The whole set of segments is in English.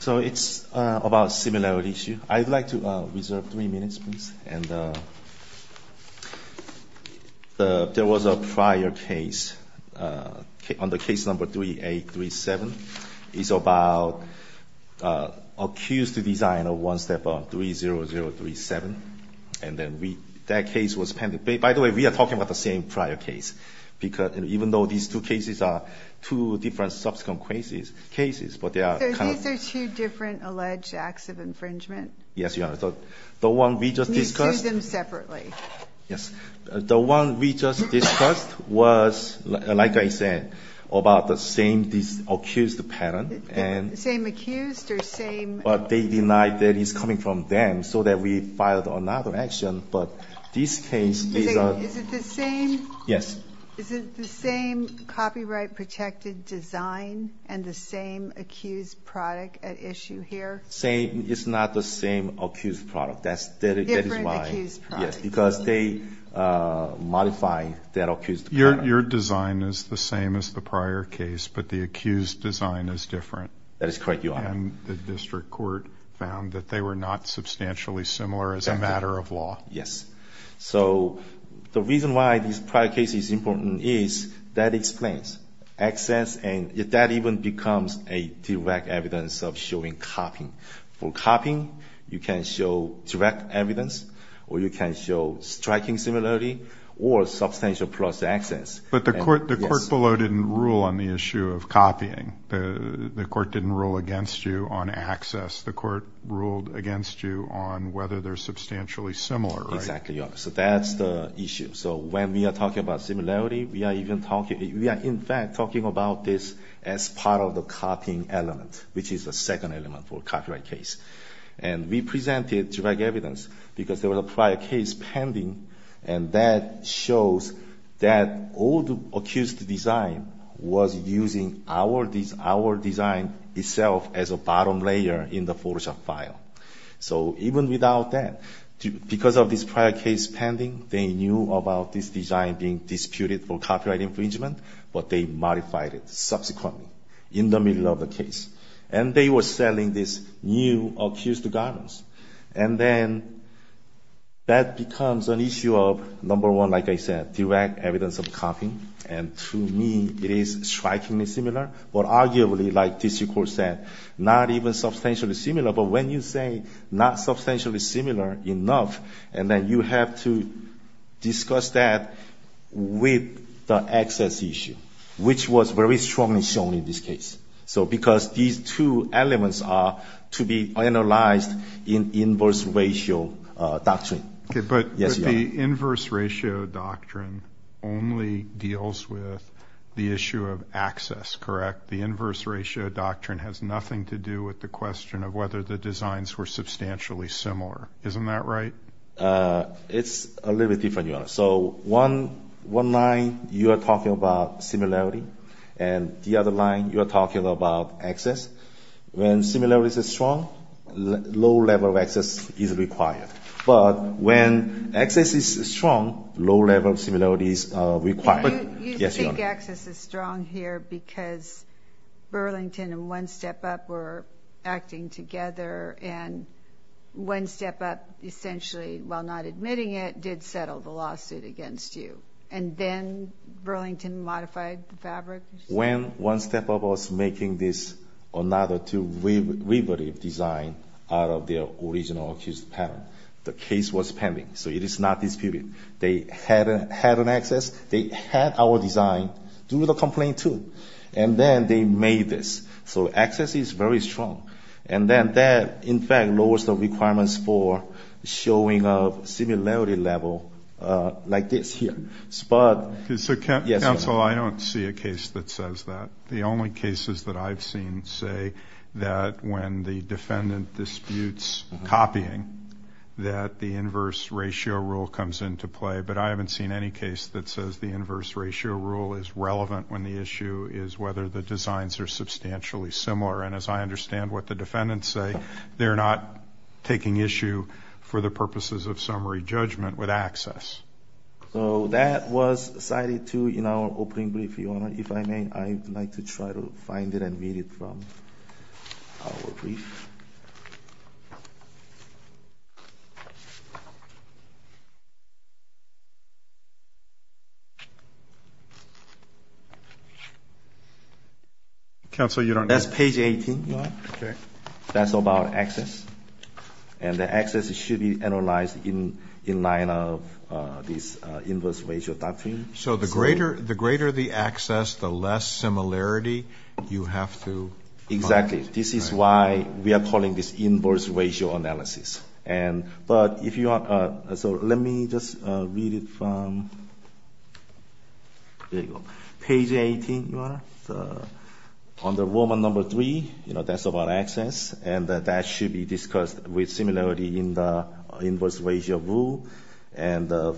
So it's about a similarity issue. I'd like to reserve three minutes, please. And there was a prior case on the case number 3837. It's about an accused designer, one step up, 30037. By the way, we are talking about the same prior case, even though these two cases are two different subsequent cases. So these are two different alleged acts of infringement? Yes, Your Honor. You sued them separately? Yes. The one we just discussed was, like I said, about the same accused pattern. Same accused or same... But they denied that it's coming from them, so that we filed another action. But this case is a... Is it the same... Yes. Is it the same copyright-protected design and the same accused product at issue here? It's not the same accused product. That is why... Different accused product. Yes, because they modified that accused product. Your design is the same as the prior case, but the accused design is different. That is correct, Your Honor. And the district court found that they were not substantially similar as a matter of law. Yes. So the reason why this prior case is important is that explains access, and that even becomes a direct evidence of showing copying. For copying, you can show direct evidence, or you can show striking similarity, or substantial plus access. But the court below didn't rule on the issue of copying. The court didn't rule against you on access. The court ruled against you on whether they're substantially similar, right? Exactly, Your Honor. So that's the issue. So when we are talking about similarity, we are even talking... We are, in fact, talking about this as part of the copying element, which is the second element for a copyright case. And we presented direct evidence because there was a prior case pending, and that shows that all the accused design was using our design itself as a bottom layer in the Photoshop file. So even without that, because of this prior case pending, they knew about this design being disputed for copyright infringement, but they modified it subsequently in the middle of the case. And they were selling this new Accused Gardens. And then that becomes an issue of, number one, like I said, direct evidence of copying. And to me, it is strikingly similar, but arguably, like this court said, not even substantially similar. But when you say not substantially similar enough, and then you have to discuss that with the access issue, which was very strongly shown in this case. So because these two elements are to be analyzed in inverse ratio doctrine. But the inverse ratio doctrine only deals with the issue of access, correct? The inverse ratio doctrine has nothing to do with the question of whether the designs were substantially similar. Isn't that right? So one line, you are talking about similarity. And the other line, you are talking about access. When similarities are strong, low level of access is required. But when access is strong, low level of similarities are required. You think access is strong here because Burlington and One Step Up were acting together. And One Step Up essentially, while not admitting it, did settle the lawsuit against you. And then Burlington modified the fabric. When One Step Up was making this another two-river design out of their original Accused Gardens, the case was pending. So it is not disputed. They had an access. They had our design. Do the complaint too. And then they made this. So access is very strong. And then that, in fact, lowers the requirements for showing of similarity level like this here. So, counsel, I don't see a case that says that. The only cases that I've seen say that when the defendant disputes copying, that the inverse ratio rule comes into play. But I haven't seen any case that says the inverse ratio rule is relevant when the issue is whether the designs are substantially similar. And as I understand what the defendants say, they're not taking issue for the purposes of summary judgment with access. So that was cited too in our opening brief, Your Honor. If I may, I'd like to try to find it and read it from our brief. Counsel, you don't know? That's page 18. Okay. That's about access. And the access should be analyzed in line of this inverse ratio doctrine. So the greater the access, the less similarity you have to find? Exactly. This is why we are calling this inverse ratio analysis. But if you want to – so let me just read it from – there you go. Page 18, Your Honor. Under Rule No. 3, you know, that's about access, and that should be discussed with similarity in the inverse ratio rule. And the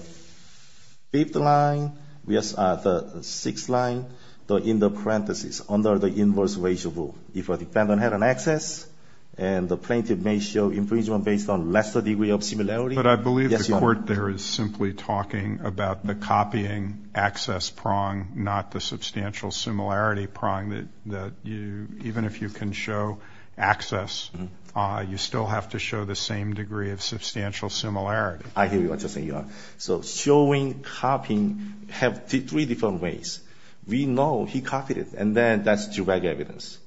fifth line – yes, the sixth line in the parentheses under the inverse ratio rule. If a defendant had an access and the plaintiff may show infringement based on lesser degree of similarity – But I believe the court there is simply talking about the copying access prong, not the substantial similarity prong that even if you can show access, you still have to show the same degree of substantial similarity. I hear what you're saying, Your Honor. So showing copying have three different ways. We know he copied it, and then that's direct evidence.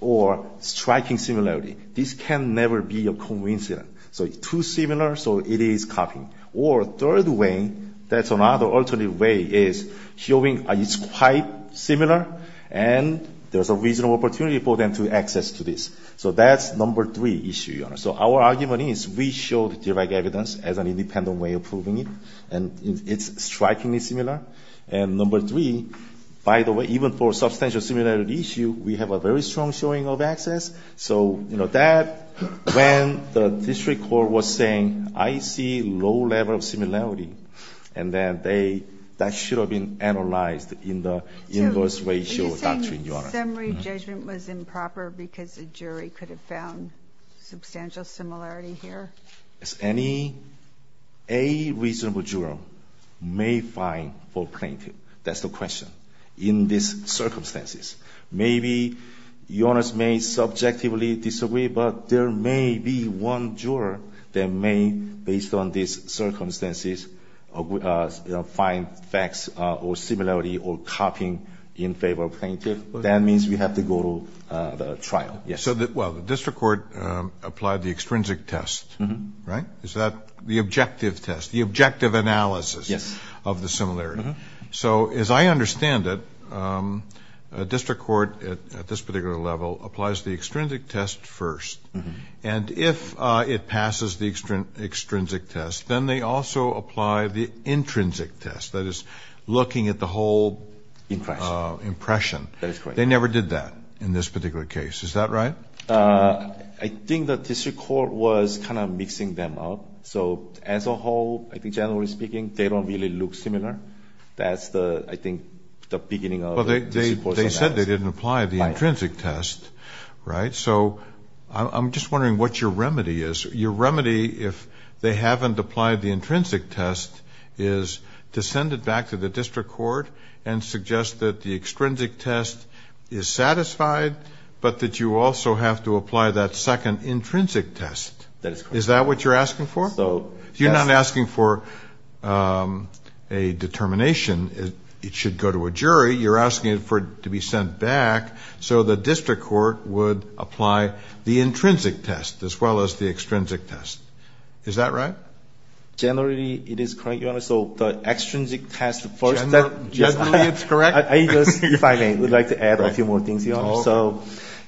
Or striking similarity. This can never be a coincidence. So too similar, so it is copying. Or third way, that's another alternative way, is showing it's quite similar and there's a reasonable opportunity for them to access to this. So that's No. 3 issue, Your Honor. So our argument is we showed direct evidence as an independent way of proving it, and it's strikingly similar. And No. 3, by the way, even for substantial similarity issue, we have a very strong showing of access. So that, when the district court was saying, I see low level of similarity, and that should have been analyzed in the inverse ratio doctrine, Your Honor. So you're saying summary judgment was improper because the jury could have found substantial similarity here? Any reasonable juror may find for plaintiff, that's the question, in these circumstances. Maybe Your Honor may subjectively disagree, but there may be one juror that may, based on these circumstances, find facts or similarity or copying in favor of plaintiff. That means we have to go to trial. So the district court applied the extrinsic test, right? Is that the objective test, the objective analysis of the similarity? Yes. Okay. So as I understand it, a district court at this particular level applies the extrinsic test first. And if it passes the extrinsic test, then they also apply the intrinsic test, that is, looking at the whole impression. That is correct. They never did that in this particular case. Is that right? I think the district court was kind of mixing them up. So as a whole, I think, generally speaking, they don't really look similar. That's the, I think, the beginning of the district court's analysis. Well, they said they didn't apply the intrinsic test, right? So I'm just wondering what your remedy is. Your remedy, if they haven't applied the intrinsic test, is to send it back to the district court and suggest that the extrinsic test is satisfied, but that you also have to apply that second intrinsic test. That is correct. Is that what you're asking for? So, yes. You're not asking for a determination. It should go to a jury. You're asking for it to be sent back so the district court would apply the intrinsic test as well as the extrinsic test. Is that right? Generally, it is correct, Your Honor. So the extrinsic test first. Generally, it's correct? If I may, I would like to add a few more things, Your Honor. So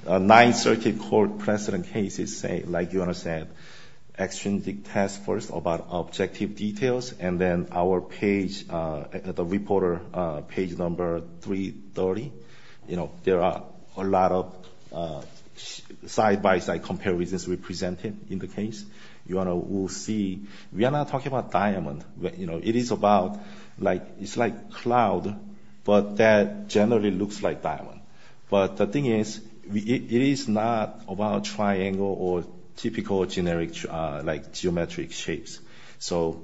9th Circuit Court precedent case is, like Your Honor said, extrinsic test first about objective details, and then our page, the reporter page number 330, you know, there are a lot of side-by-side comparisons represented in the case. Your Honor, we'll see. We are not talking about diamond. You know, it is about, like, it's like cloud, but that generally looks like diamond. But the thing is, it is not about triangle or typical generic, like, geometric shapes. So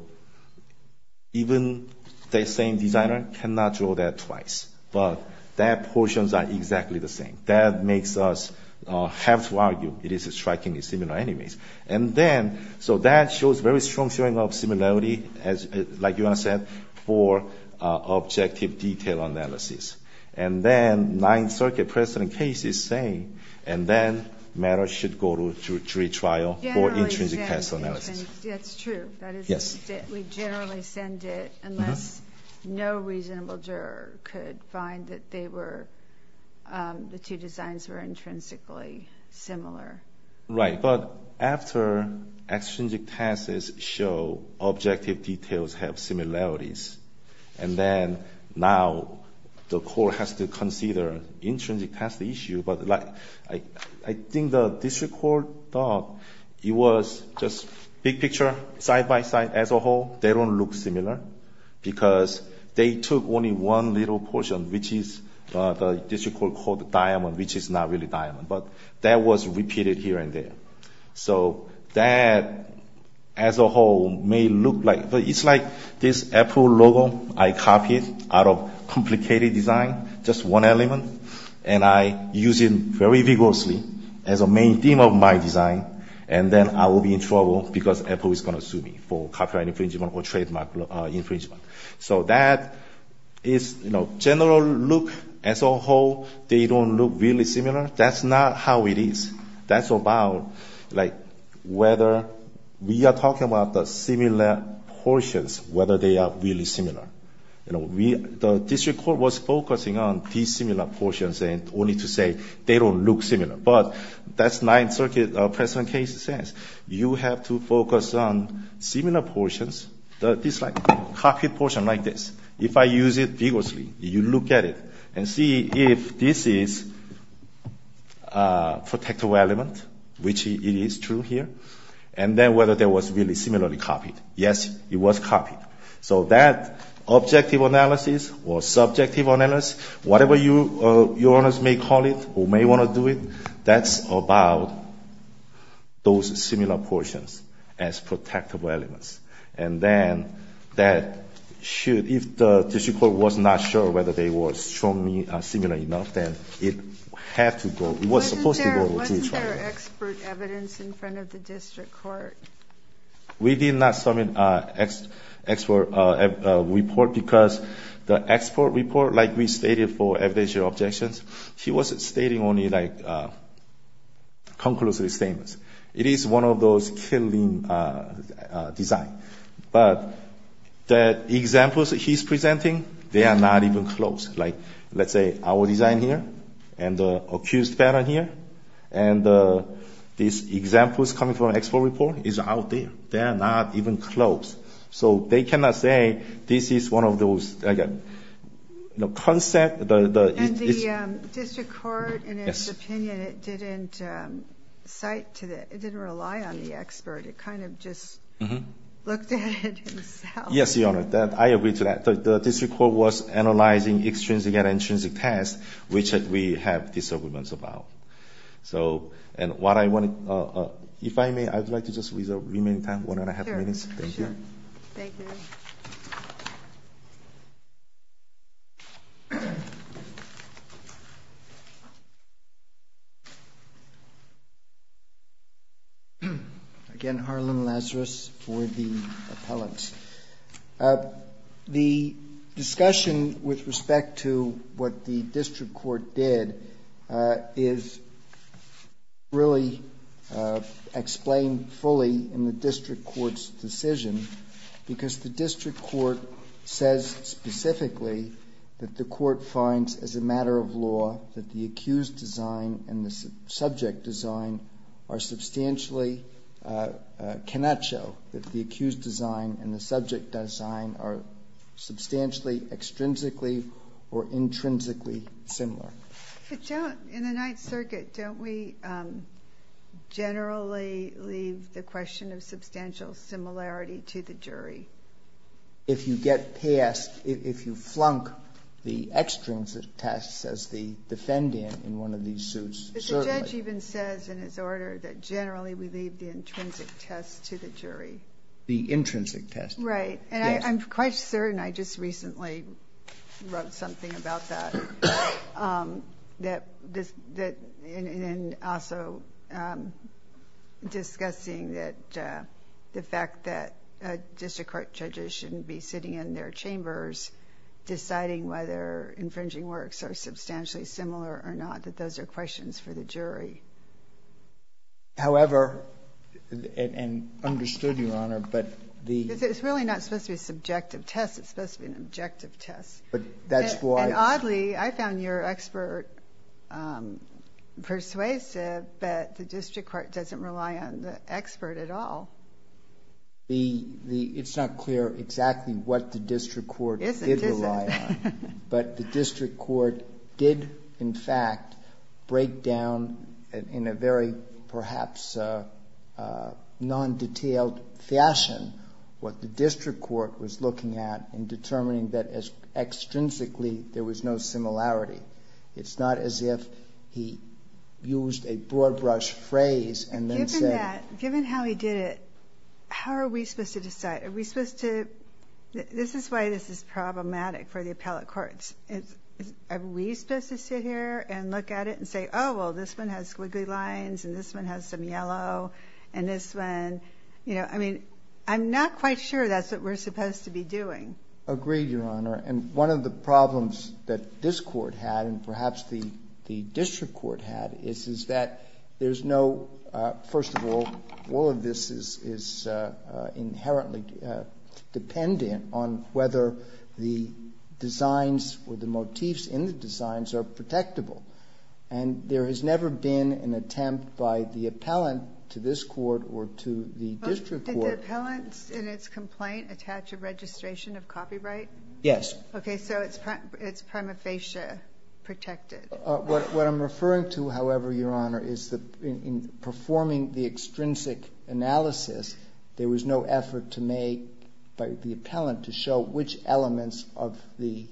even the same designer cannot draw that twice, but their portions are exactly the same. That makes us have to argue it is strikingly similar anyways. And then, so that shows very strong showing of similarity, like Your Honor said, for objective detail analysis. And then 9th Circuit precedent case is saying, and then matters should go to jury trial for intrinsic test analysis. That's true. Yes. We generally send it unless no reasonable juror could find that they were, the two designs were intrinsically similar. Right. But after extrinsic tests show objective details have similarities, and then now the court has to consider intrinsic test issue. But, like, I think the district court thought it was just big picture, side-by-side, as a whole. They don't look similar because they took only one little portion, which is the district court called diamond, which is not really diamond. But that was repeated here and there. So that, as a whole, may look like, it's like this Apple logo I copied out of complicated design, just one element. And I use it very vigorously as a main theme of my design. And then I will be in trouble because Apple is going to sue me for copyright infringement or trademark infringement. So that is, you know, general look as a whole. They don't look really similar. That's not how it is. That's about, like, whether we are talking about the similar portions, whether they are really similar. You know, we, the district court was focusing on dissimilar portions, only to say they don't look similar. But that's Ninth Circuit, President Casey says. You have to focus on similar portions. It's like a copied portion like this. If I use it vigorously, you look at it and see if this is a protective element, which it is true here, and then whether that was really similarly copied. Yes, it was copied. So that objective analysis or subjective analysis, whatever your honors may call it, who may want to do it, that's about those similar portions as protectable elements. And then that should, if the district court was not sure whether they were strongly similar enough, then it had to go. It was supposed to go. Wasn't there expert evidence in front of the district court? We did not submit an expert report because the expert report, like we stated for evidential objections, he was stating only, like, conclusive statements. It is one of those killing designs. But the examples that he's presenting, they are not even close. Like, let's say our design here and the accused banner here, and these examples coming from expert report is out there. They are not even close. So they cannot say this is one of those, like a concept. And the district court, in its opinion, it didn't cite to the, it didn't rely on the expert. It kind of just looked at it. Yes, your honor. I agree to that. The district court was analyzing extrinsic and intrinsic tests, which we have disagreements about. So, and what I want to, if I may, I would like to just, with the remaining time, one and a half minutes. Thank you. Thank you. Again, Harlan Lazarus for the appellate. The discussion with respect to what the district court did is really explained fully in the district court's decision, because the district court says specifically that the court finds, as a matter of law, that the accused design and the subject design are substantially, cannot show that the accused design and the subject design are substantially extrinsically or intrinsically similar. But don't, in the Ninth Circuit, don't we generally leave the question of substantial similarity to the jury? If you get past, if you flunk the extrinsic tests as the defendant in one of these suits, certainly. But the judge even says in his order that generally we leave the intrinsic test to the jury. The intrinsic test. Right. Yes. And I'm quite certain, I just recently wrote something about that. That, and also discussing that, the fact that district court judges shouldn't be sitting in their chambers deciding whether infringing works are substantially similar or not, that those are questions for the jury. However, and understood, Your Honor, but the. It's really not supposed to be a subjective test, it's supposed to be an objective test. But that's why. And oddly, I found your expert persuasive, but the district court doesn't rely on the expert at all. The, it's not clear exactly what the district court did rely on. Is it, is it? But the district court did, in fact, break down in a very perhaps non-detailed fashion what the district court was looking at in determining that as extrinsically there was no similarity. It's not as if he used a broad brush phrase and then said. Given that, given how he did it, how are we supposed to decide? Are we supposed to, this is why this is problematic for the appellate courts. Are we supposed to sit here and look at it and say, oh, well, this one has squiggly lines and this one has some yellow and this one, you know. I mean, I'm not quite sure that's what we're supposed to be doing. Agreed, Your Honor. And one of the problems that this court had and perhaps the district court had is that there's no, first of all, all of this is inherently dependent on whether the designs or the motifs in the designs are protectable. And there has never been an attempt by the appellant to this court or to the district court. Did the appellant in its complaint attach a registration of copyright? Yes. Okay, so it's prima facie protected. What I'm referring to, however, Your Honor, is that in performing the extrinsic analysis, there was no effort to make by the appellant to show which elements of the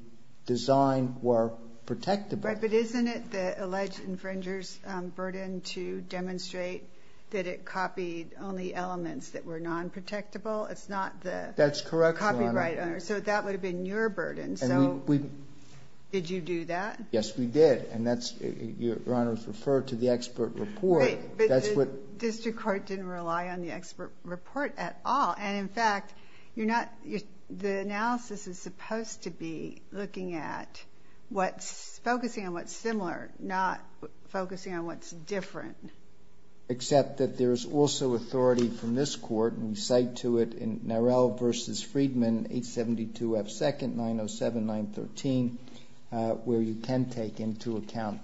design were protectable. But isn't it the alleged infringer's burden to demonstrate that it copied only elements that were non-protectable? It's not the copyright owner. That's correct, Your Honor. So that would have been your burden. So did you do that? Yes, we did. And that's, Your Honor, referred to the expert report. But the district court didn't rely on the expert report at all. And, in fact, the analysis is supposed to be looking at what's focusing on what's similar, not focusing on what's different. Except that there is also authority from this court, and we cite to it in Narell v. Friedman, 872 F. 2nd, 907-913, where you can take into account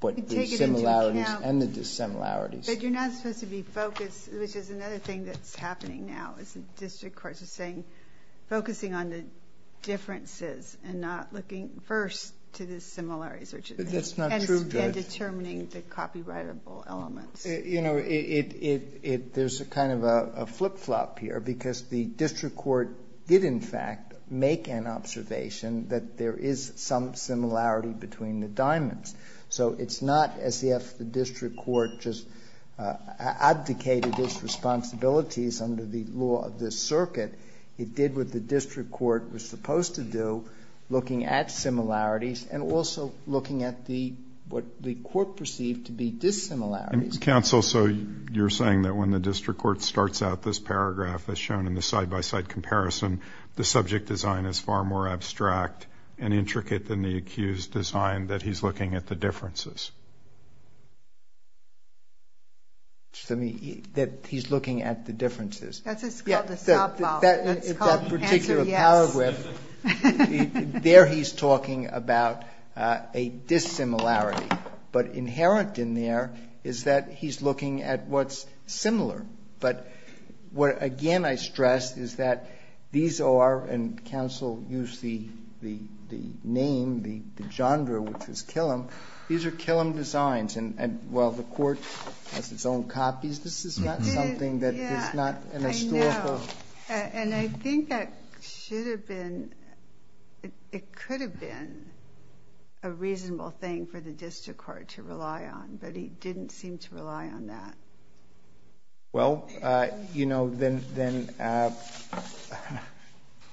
the similarities and the dissimilarities. But you're not supposed to be focused, which is another thing that's happening now, is the district courts are focusing on the differences and not looking first to the similarities. That's not true, Judge. And determining the copyrightable elements. You know, there's kind of a flip-flop here because the district court did, in fact, So it's not as if the district court just abdicated its responsibilities under the law of this circuit. It did what the district court was supposed to do, looking at similarities and also looking at what the court perceived to be dissimilarities. Counsel, so you're saying that when the district court starts out this paragraph, as shown in the side-by-side comparison, the subject design is far more abstract and intricate than the accused design, that he's looking at the differences? That he's looking at the differences. That's what's called a stop-box. That particular paragraph, there he's talking about a dissimilarity. But inherent in there is that he's looking at what's similar. But what, again, I stress is that these are, and counsel used the name, the genre, which is Killam, these are Killam designs. And while the court has its own copies, this is not something that is not an historical. And I think that should have been, it could have been a reasonable thing for the district court to rely on. But he didn't seem to rely on that. Well, you know, then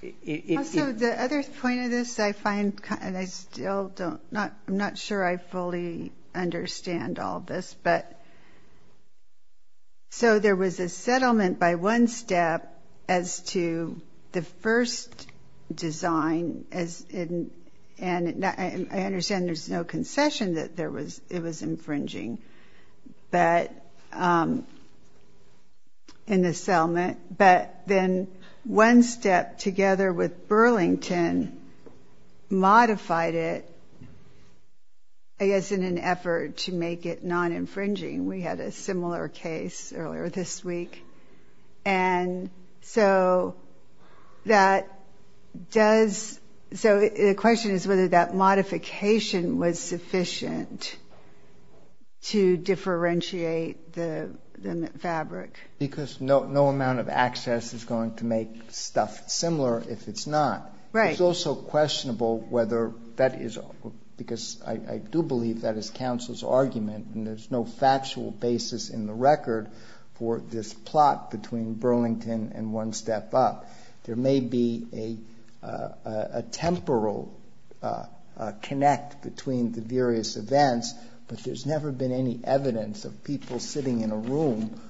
it's. Also, the other point of this I find, and I still don't, I'm not sure I fully understand all this, but so there was a settlement by one step as to the first design, and I understand there's no concession that it was infringing. But in the settlement, but then one step together with Burlington modified it, I guess, in an effort to make it non-infringing. We had a similar case earlier this week. And so that does, so the question is whether that modification was sufficient to differentiate the fabric. Because no amount of access is going to make stuff similar if it's not. It's also questionable whether that is, because I do believe that is counsel's argument, and there's no factual basis in the record for this plot between Burlington and one step up. There may be a temporal connect between the various events, but there's never been any evidence of people sitting in a room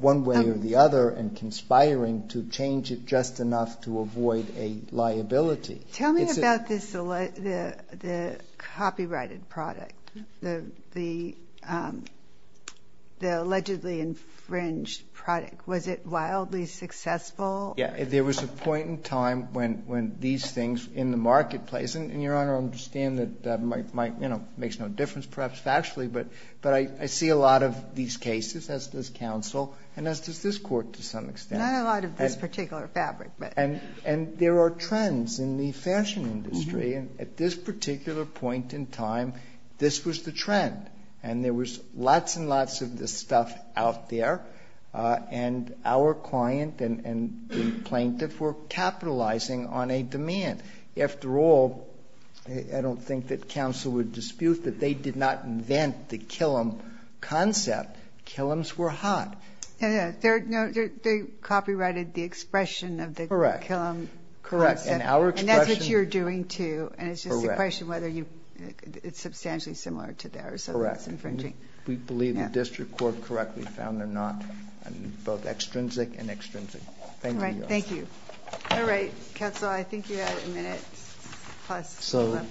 one way or the other and conspiring to change it just enough to avoid a liability. Tell me about this, the copyrighted product, the allegedly infringed product. Was it wildly successful? Yeah, there was a point in time when these things in the marketplace, and, Your Honor, I understand that that makes no difference, perhaps factually, but I see a lot of these cases, as does counsel, and as does this Court to some extent. Not a lot of this particular fabric, but. And there are trends in the fashion industry, and at this particular point in time, this was the trend. And there was lots and lots of this stuff out there, and our client and the plaintiff were capitalizing on a demand. After all, I don't think that counsel would dispute that they did not invent the Killam concept. Killams were hot. They copyrighted the expression of the Killam concept. Correct. And that's what you're doing, too, and it's just a question whether it's substantially similar to theirs. Correct. We believe the district court correctly found they're not both extrinsic and extrinsic. Thank you, Your Honor. All right, thank you. All right, counsel, I think you have a minute plus left. So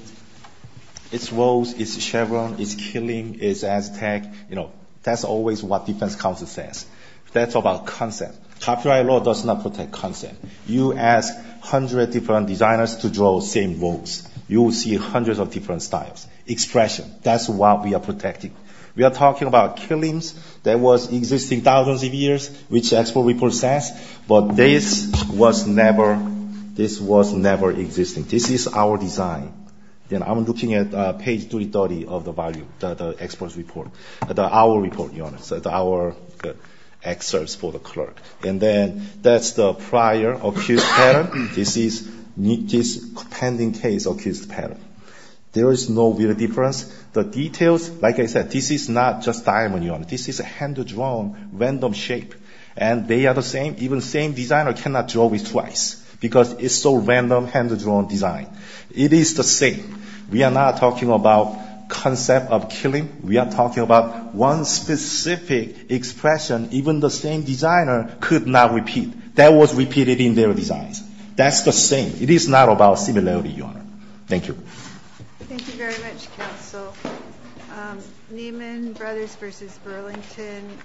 it's woes, it's Chevron, it's killing, it's Aztec. You know, that's always what defense counsel says. That's about concept. Copyright law does not protect concept. You ask hundreds of different designers to draw the same votes, you will see hundreds of different styles. Expression, that's what we are protecting. We are talking about Killams that was existing thousands of years, which the expert report says, but this was never existing. This is our design. Then I'm looking at page 330 of the value, the expert's report, our report, Your Honor, our excerpts for the clerk. And then that's the prior accused pattern. This is pending case accused pattern. There is no real difference. The details, like I said, this is not just diamond, Your Honor. This is a hand-drawn random shape, and they are the same. Even the same designer cannot draw with twice because it's so random hand-drawn design. It is the same. We are not talking about concept of Killam. We are talking about one specific expression. Even the same designer could not repeat. That was repeated in their designs. That's the same. It is not about similarity, Your Honor. Thank you. Thank you very much, counsel. Neiman Brothers v. Burlington.